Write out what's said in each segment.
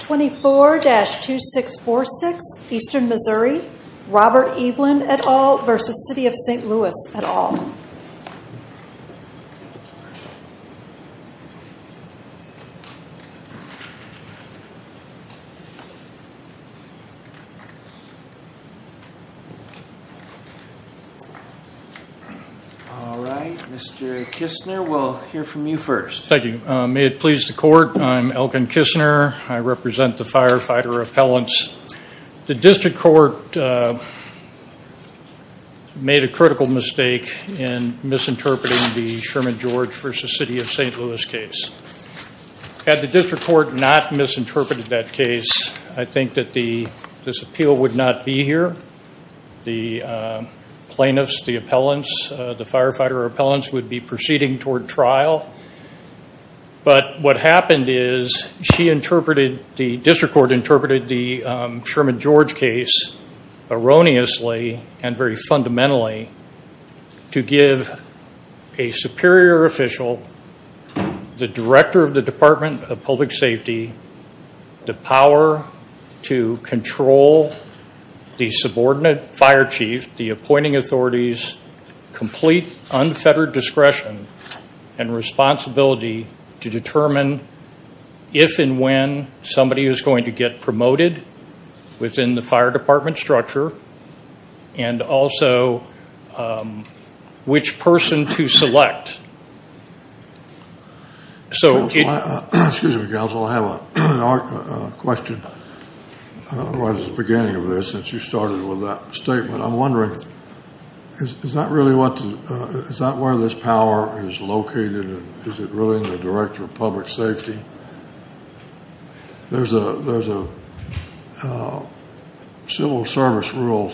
24-2646 Eastern Missouri Robert Eveland et al. v. City of St. Louis et al. Alright, Mr. Kistner, we'll hear from you first. Thank you. May it please the court, I'm Elkin Kistner. I represent the firefighter appellants. The district court made a critical mistake in misinterpreting the Sherman George v. City of St. Louis case. Had the district court not misinterpreted that case, I think that this appeal would not be here. The plaintiffs, the appellants, the firefighter appellants would be proceeding toward trial. But what happened is she interpreted, the district court interpreted the Sherman George case erroneously and very fundamentally to give a superior official, the director of the Department of Public Safety, the power to control the subordinate fire chief, the appointing authorities, complete unfettered discretion and responsibility to determine if and when somebody is going to get promoted within the fire department structure and also which person to select. Excuse me, counsel, I have a question. I don't know why this is the beginning of this since you started with that statement. I'm wondering, is that where this power is located and is it really in the director of public safety? There's a civil service rule,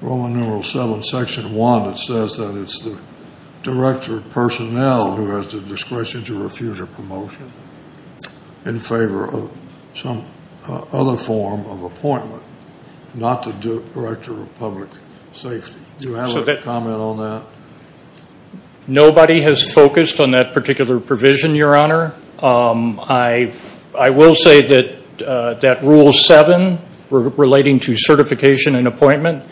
Roman numeral 7, section 1, that says that it's the director of personnel who has the discretion to refuse a promotion in favor of some other form of appointment, not the director of public safety. Do you have a comment on that? Nobody has focused on that particular provision, your honor. I will say that rule 7 relating to certification and appointment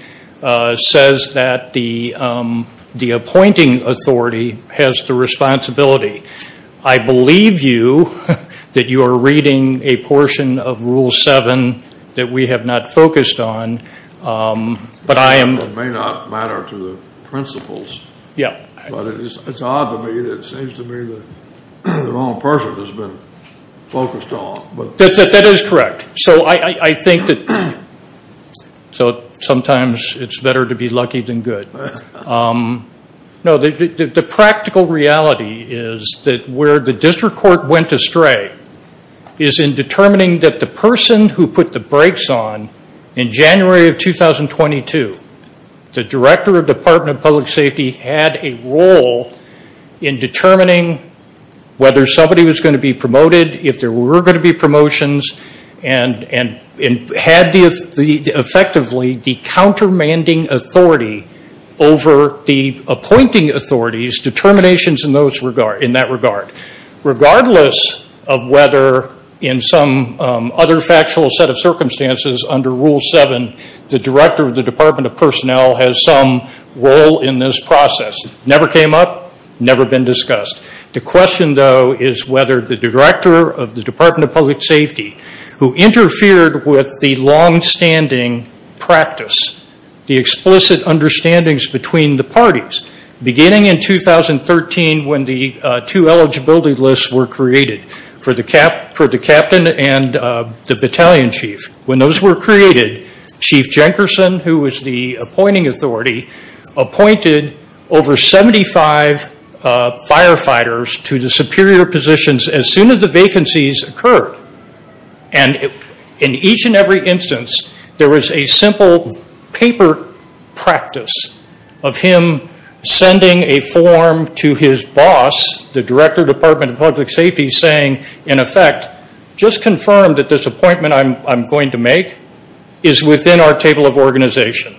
says that the appointing authority has the responsibility. I believe you that you are reading a portion of rule 7 that we have not focused on. It may not matter to the principles, but it's odd to me that it seems to me that the wrong person has been focused on. That is correct. So I think that sometimes it's better to be lucky than good. No, the practical reality is that where the district court went astray is in determining that the person who put the brakes on in January of 2022, the director of department of public safety had a role in determining whether somebody was going to be promoted, if there were going to be promotions, and had effectively the countermanding authority over the appointing authorities determinations in that regard. Regardless of whether in some other factual set of circumstances under rule 7, the director of the department of personnel has some role in this process, never came up, never been discussed. The question, though, is whether the director of the department of public safety, who interfered with the longstanding practice, the explicit understandings between the parties, beginning in 2013 when the two eligibility lists were created for the captain and the battalion chief. When those were created, Chief Jenkinson, who was the appointing authority, appointed over 75 firefighters to the superior positions as soon as the vacancies occurred. In each and every instance, there was a simple paper practice of him sending a form to his boss, the director of department of public safety, saying, in effect, just confirm that this appointment I'm going to make is within our table of organization.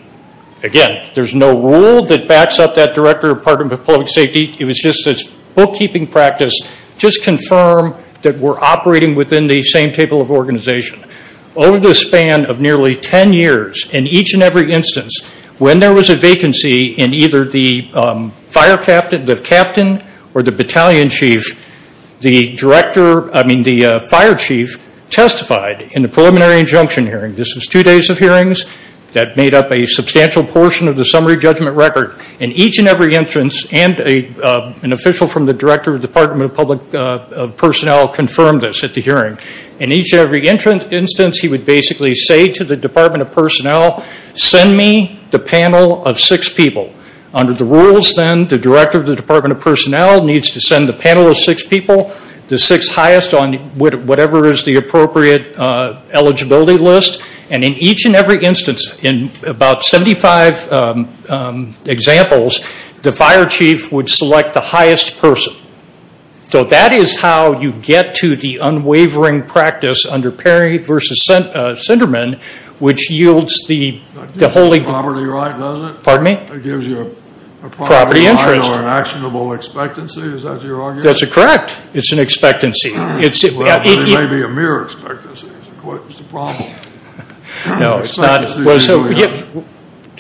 Again, there's no rule that backs up that director of department of public safety. It was just this bookkeeping practice. Just confirm that we're operating within the same table of organization. Over the span of nearly 10 years, in each and every instance, when there was a vacancy in either the captain or the battalion chief, the fire chief testified in the preliminary injunction hearing. This was two days of hearings that made up a substantial portion of the summary judgment record. In each and every instance, an official from the director of department of public personnel confirmed this at the hearing. In each and every instance, he would basically say to the department of personnel, send me the panel of six people. Under the rules, then, the director of the department of personnel needs to send the panel of six people, the six highest on whatever is the appropriate eligibility list. In each and every instance, in about 75 examples, the fire chief would select the highest person. That is how you get to the unwavering practice under Perry v. Sinderman, which yields the holy... It gives you a property right, doesn't it? Pardon me? It gives you a property right or an actionable expectancy. Is that your argument? That's correct. It's an expectancy. It may be a mere expectancy. No, it's not.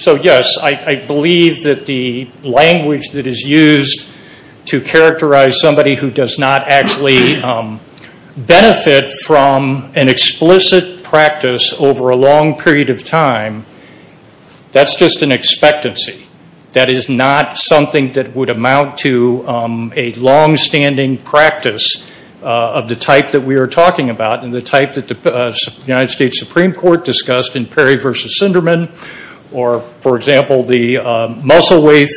So, yes, I believe that the language that is used to characterize somebody who does not actually benefit from an explicit practice over a long period of time, that's just an expectancy. That is not something that would amount to a longstanding practice of the type that we are talking about and the type that the United States Supreme Court discussed in Perry v. Sinderman or, for example, the Musselwaith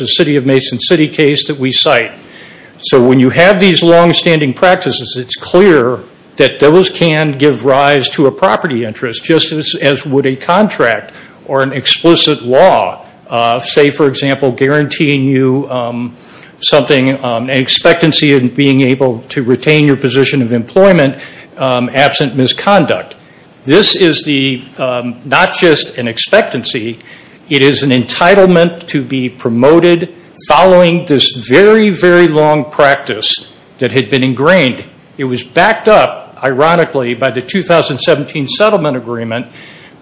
v. City of Mason City case that we cite. So when you have these longstanding practices, it's clear that those can give rise to a property interest, just as would a contract or an explicit law. Say, for example, guaranteeing you something, an expectancy of being able to retain your position of employment absent misconduct. This is not just an expectancy. It is an entitlement to be promoted following this very, very long practice that had been ingrained. It was backed up, ironically, by the 2017 Settlement Agreement,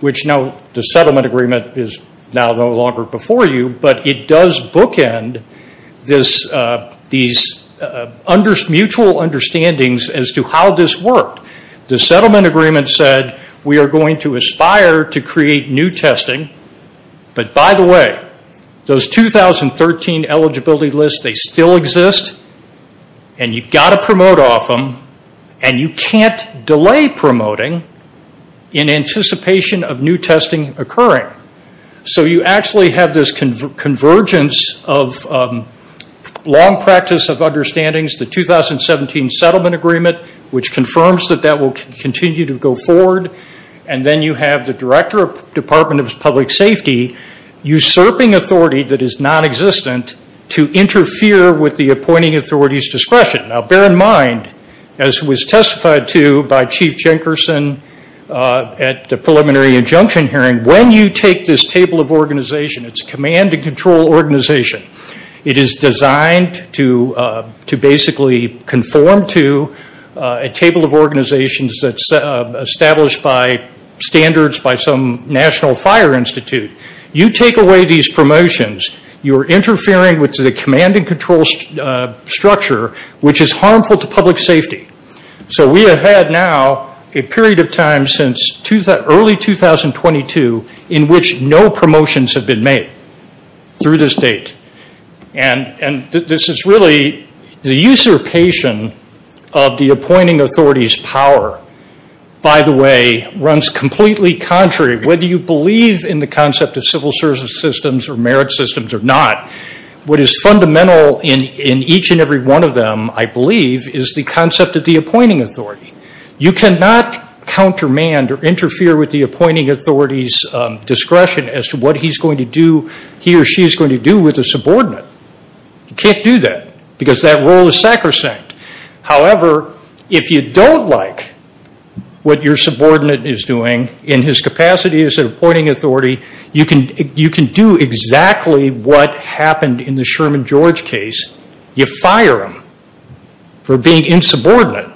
which now the Settlement Agreement is now no longer before you, but it does bookend these mutual understandings as to how this worked. The Settlement Agreement said we are going to aspire to create new testing, but by the way, those 2013 eligibility lists, they still exist, and you've got to promote off them, and you can't delay promoting in anticipation of new testing occurring. So you actually have this convergence of long practice of understandings, the 2017 Settlement Agreement, which confirms that that will continue to go forward, and then you have the Director of the Department of Public Safety usurping authority that is nonexistent to interfere with the appointing authority's discretion. Now, bear in mind, as was testified to by Chief Jenkinson at the preliminary injunction hearing, when you take this table of organization, it's a command-and-control organization. It is designed to basically conform to a table of organizations that's established by standards by some national fire institute. You take away these promotions, you're interfering with the command-and-control structure, which is harmful to public safety. So we have had now a period of time since early 2022 in which no promotions have been made through this date, and this is really the usurpation of the appointing authority's power, by the way, runs completely contrary. Whether you believe in the concept of civil service systems or merit systems or not, what is fundamental in each and every one of them, I believe, is the concept of the appointing authority. You cannot countermand or interfere with the appointing authority's discretion as to what he or she is going to do with a subordinate. You can't do that because that role is sacrosanct. However, if you don't like what your subordinate is doing in his capacity as an appointing authority, you can do exactly what happened in the Sherman George case. You fire him for being insubordinate.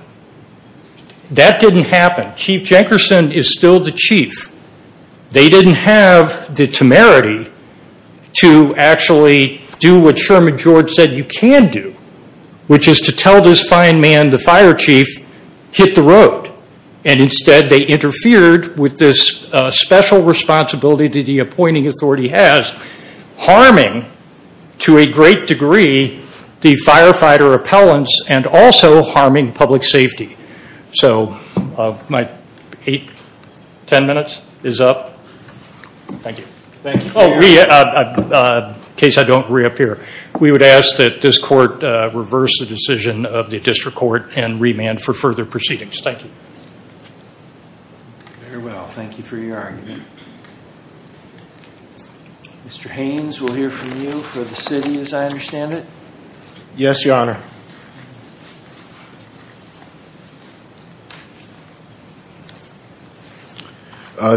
That didn't happen. Chief Jenkinson is still the chief. They didn't have the temerity to actually do what Sherman George said you can do, which is to tell this fine man, the fire chief, hit the road. Instead, they interfered with this special responsibility that the appointing authority has, harming to a great degree the firefighter appellants and also harming public safety. My 10 minutes is up. Thank you. In case I don't reappear, we would ask that this court reverse the decision of the district court and remand for further proceedings. Thank you. Very well. Thank you for your argument. Mr. Haynes, we'll hear from you for the city as I understand it. Yes, Your Honor.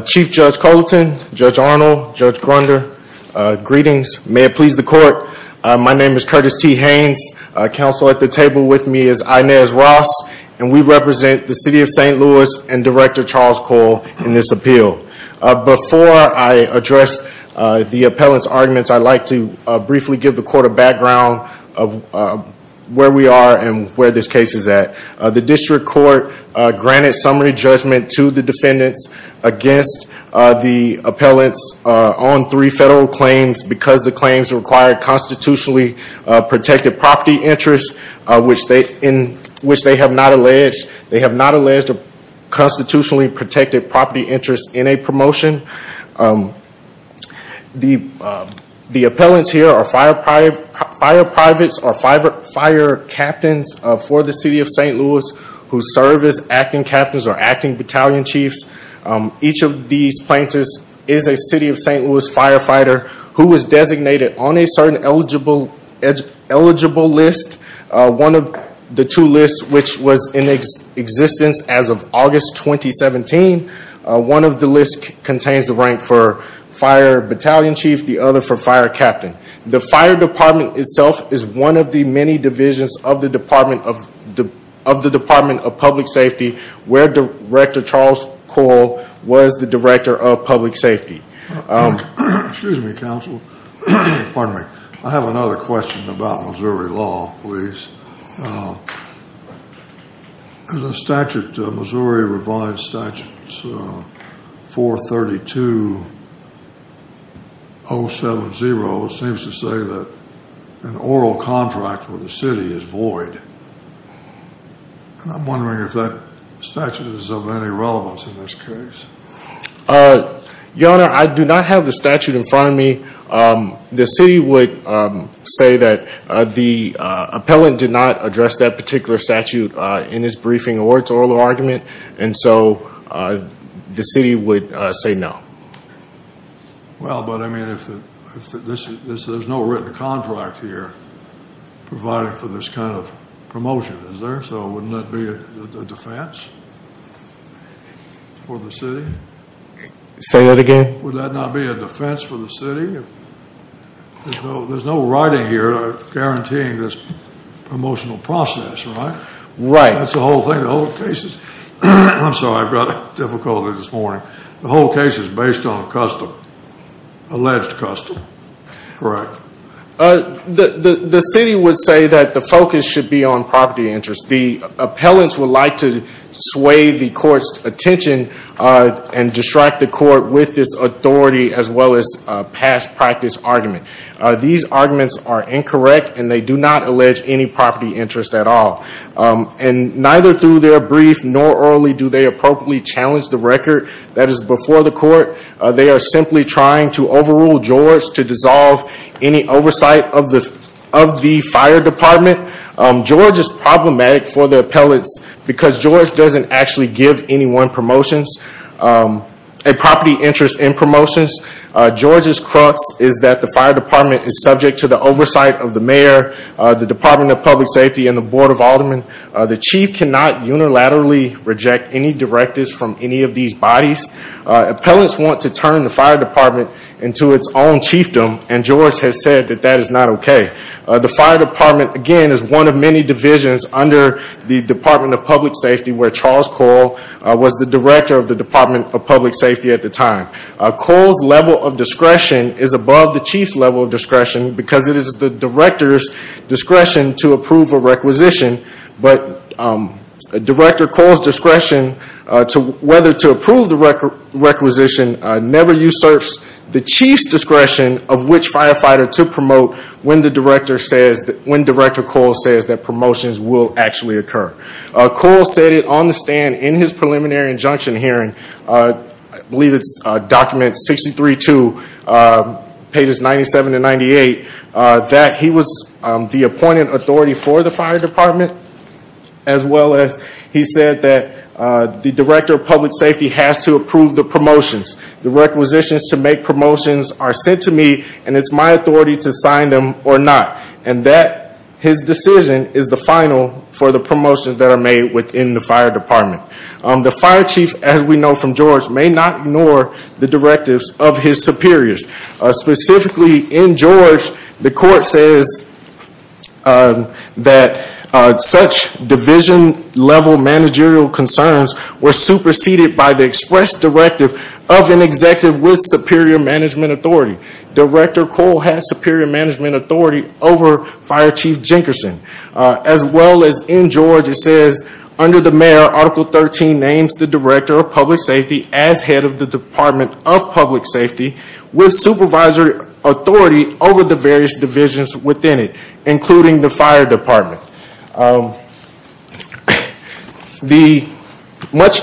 Chief Judge Culleton, Judge Arnold, Judge Grunder, greetings. May it please the court. My name is Curtis T. Haynes. Counsel at the table with me is Inez Ross. We represent the city of St. Louis and Director Charles Cole in this appeal. Before I address the appellants' arguments, I'd like to briefly give the court a background of where we are and where this case is at. The district court granted summary judgment to the defendants against the appellants on three federal claims because the claims required constitutionally protected property interests, in which they have not alleged a constitutionally protected property interest in a promotion. The appellants here are fire privates or fire captains for the city of St. Louis, who serve as acting captains or acting battalion chiefs. Each of these plaintiffs is a city of St. Louis firefighter who was designated on a certain eligible list. One of the two lists, which was in existence as of August 2017, one of the lists contains the rank for fire battalion chief, the other for fire captain. The fire department itself is one of the many divisions of the Department of Public Safety where Director Charles Cole was the Director of Public Safety. Excuse me, counsel. Pardon me. I have another question about Missouri law, please. The statute, Missouri revised statute 432.070, seems to say that an oral contract with the city is void. I'm wondering if that statute is of any relevance in this case. Your Honor, I do not have the statute in front of me. The city would say that the appellant did not address that particular statute in his briefing or its oral argument, and so the city would say no. Well, but I mean, there's no written contract here providing for this kind of promotion, is there? So wouldn't that be a defense for the city? Say that again? Would that not be a defense for the city? There's no writing here guaranteeing this promotional process, right? Right. That's the whole thing, the whole case is. I'm sorry, I've got difficulty this morning. The whole case is based on custom, alleged custom, correct? The city would say that the focus should be on property interest. The appellants would like to sway the court's attention and distract the court with this authority as well as past practice argument. These arguments are incorrect, and they do not allege any property interest at all. And neither through their brief nor orally do they appropriately challenge the record that is before the court. They are simply trying to overrule George to dissolve any oversight of the fire department. George is problematic for the appellants because George doesn't actually give anyone a property interest in promotions. George's crux is that the fire department is subject to the oversight of the mayor, the Department of Public Safety, and the Board of Aldermen. The chief cannot unilaterally reject any directives from any of these bodies. Appellants want to turn the fire department into its own chiefdom, and George has said that that is not okay. The fire department, again, is one of many divisions under the Department of Public Safety where Charles Cole was the director of the Department of Public Safety at the time. Cole's level of discretion is above the chief's level of discretion because it is the director's discretion to approve a requisition. But Director Cole's discretion as to whether to approve the requisition never usurps the chief's discretion of which firefighter to promote when Director Cole says that promotions will actually occur. Cole said it on the stand in his preliminary injunction hearing, I believe it's document 63-2, pages 97-98, that he was the appointed authority for the fire department, as well as he said that the director of public safety has to approve the promotions. The requisitions to make promotions are sent to me, and it's my authority to sign them or not. His decision is the final for the promotions that are made within the fire department. The fire chief, as we know from George, may not ignore the directives of his superiors. Specifically, in George, the court says that such division level managerial concerns were superseded by the express directive of an executive with superior management authority. Director Cole has superior management authority over Fire Chief Jenkinson. As well as in George, it says, under the mayor, article 13 names the director of public safety as head of the department of public safety with supervisory authority over the various divisions within it, including the fire department. Much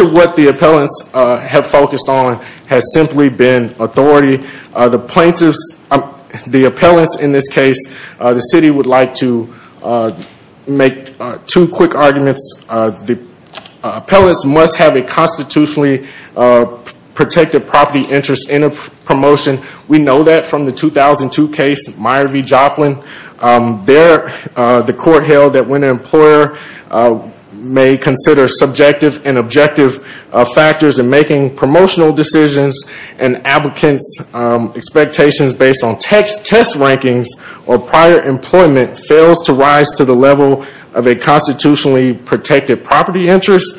of what the appellants have focused on has simply been authority. The plaintiffs, the appellants in this case, the city would like to make two quick arguments. The appellants must have a constitutionally protected property interest in a promotion. We know that from the 2002 case, Meyer v. Joplin. There, the court held that when an employer may consider subjective and objective factors in making promotional decisions and applicants' expectations based on test rankings or prior employment fails to rise to the level of a constitutionally protected property interest,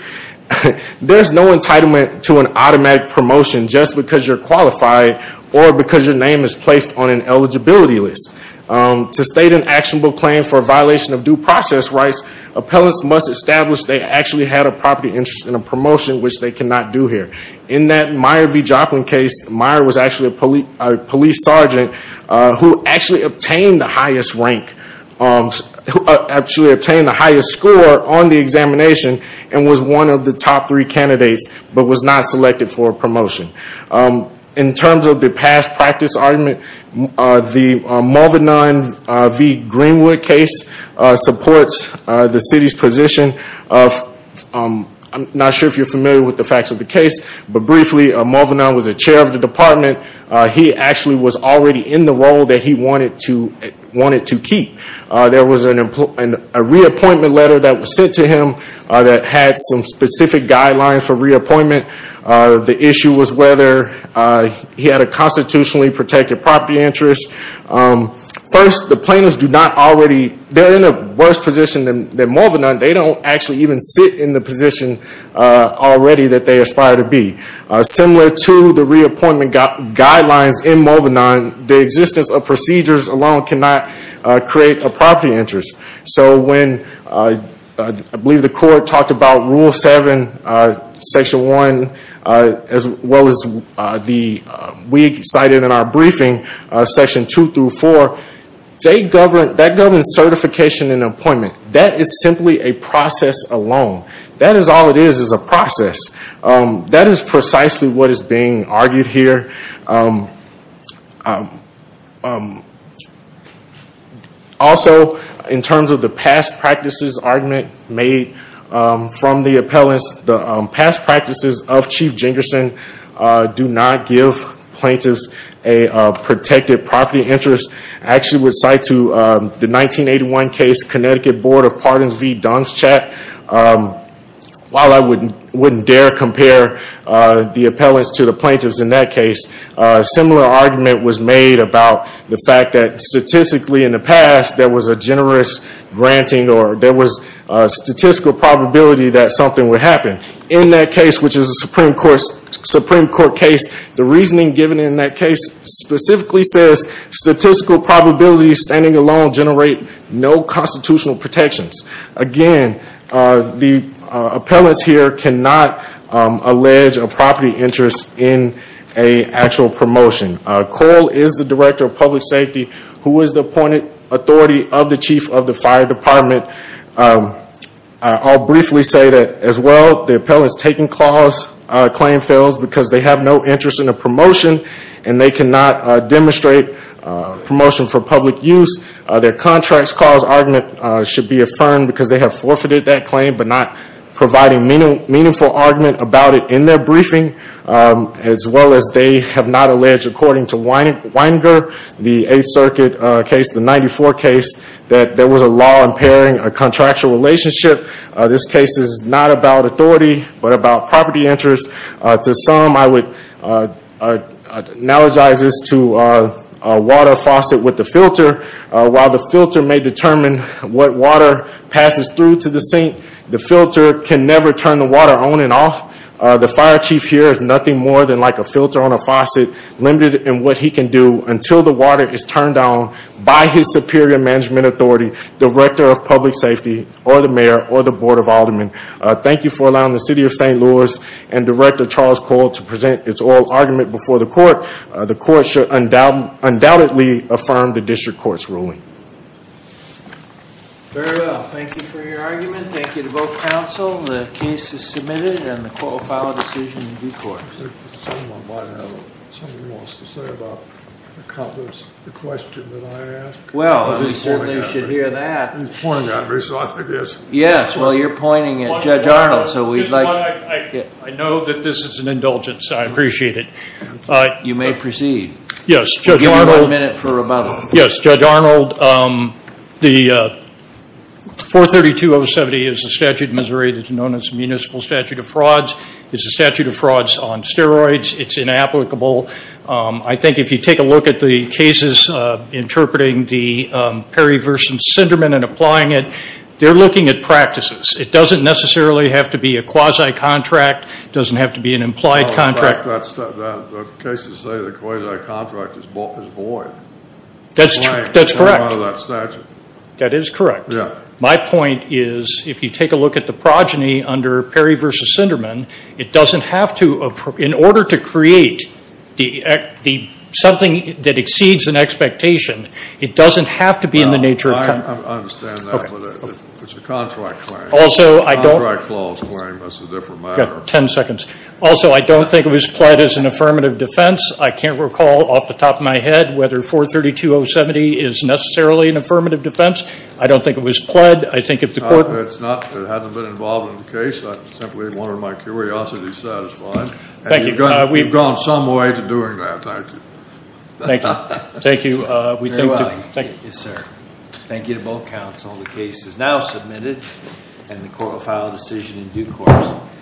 there's no entitlement to an automatic promotion just because you're qualified or because your name is placed on an eligibility list. To state an actionable claim for a violation of due process rights, appellants must establish they actually had a property interest in a promotion, which they cannot do here. In that Meyer v. Joplin case, Meyer was actually a police sergeant who actually obtained the highest score on the examination and was one of the top three candidates, but was not selected for a promotion. In terms of the past practice argument, the Mulvinon v. Greenwood case supports the city's position. I'm not sure if you're familiar with the facts of the case, but briefly, Mulvinon was a chair of the department. He actually was already in the role that he wanted to keep. There was a reappointment letter that was sent to him that had some specific guidelines for reappointment. The issue was whether he had a constitutionally protected property interest. First, the plaintiffs are in a worse position than Mulvinon. They don't actually even sit in the position already that they aspire to be. Similar to the reappointment guidelines in Mulvinon, the existence of procedures alone cannot create a property interest. When the court talked about Rule 7, Section 1, as well as what we cited in our briefing, Section 2-4, that governs certification and appointment. That is simply a process alone. That is all it is, is a process. That is precisely what is being argued here. Also, in terms of the past practices argument made from the appellants, the past practices of Chief Jengerson do not give plaintiffs a protected property interest. I actually would cite to the 1981 case, Connecticut Board of Pardons v. Dunstchat. While I wouldn't dare compare the appellants to the plaintiffs in that case, a similar argument was made about the fact that statistically in the past there was a generous granting or there was a statistical probability that something would happen. In that case, which is a Supreme Court case, the reasoning given in that case specifically says statistical probabilities standing alone generate no constitutional protections. Again, the appellants here cannot allege a property interest in an actual promotion. Cole is the Director of Public Safety, who is the appointed authority of the Chief of the Fire Department. I'll briefly say that, as well, the appellants taking claim fails because they have no interest in a promotion and they cannot demonstrate a promotion for public use. Their contracts cause argument should be affirmed because they have forfeited that claim but not providing meaningful argument about it in their briefing. As well as they have not alleged, according to Weininger, the Eighth Circuit case, the 1994 case, that there was a law impairing a contractual relationship. This case is not about authority but about property interest. To some, I would analogize this to a water faucet with a filter. While the filter may determine what water passes through to the sink, the filter can never turn the water on and off. The Fire Chief here is nothing more than like a filter on a faucet, limited in what he can do until the water is turned on by his superior management authority, Director of Public Safety or the Mayor or the Board of Aldermen. Thank you for allowing the City of St. Louis and Director Charles Cole to present its oral argument before the Court. The Court should undoubtedly affirm the District Court's ruling. Very well, thank you for your argument. Thank you to both counsel. The case is submitted and the Court will file a decision in due course. I think someone wants to say about the question that I asked. Well, we certainly should hear that. He's pointing at me, so I think it's... Yes, well, you're pointing at Judge Arnold, so we'd like... I know that this is an indulgence, I appreciate it. You may proceed. Yes, Judge Arnold. We'll give you one minute for rebuttal. Yes, Judge Arnold. The 432-070 is a statute in Missouri that's known as the Municipal Statute of Frauds. It's a statute of frauds on steroids. It's inapplicable. I think if you take a look at the cases interpreting the Perry-Verson Syndrome and applying it, they're looking at practices. It doesn't necessarily have to be a quasi-contract. It doesn't have to be an implied contract. In fact, the cases say the quasi-contract is void. That's correct. It's not part of that statute. That is correct. Yes. My point is, if you take a look at the progeny under Perry-Verson Syndrome, it doesn't have to, in order to create something that exceeds an expectation, it doesn't have to be in the nature of... I understand that, but it's a contract claim. Also, I don't... It's a contract clause claim. That's a different matter. You've got 10 seconds. Also, I don't think it was pled as an affirmative defense. I can't recall off the top of my head whether 432-070 is necessarily an affirmative defense. I don't think it was pled. I think if the court... It hasn't been involved in the case. I simply wanted my curiosity satisfied. Thank you. You've gone some way to doing that. Thank you. Thank you. Thank you. Yes, sir. Thank you to both counsel. The case is now submitted, and the court will file a decision in due course.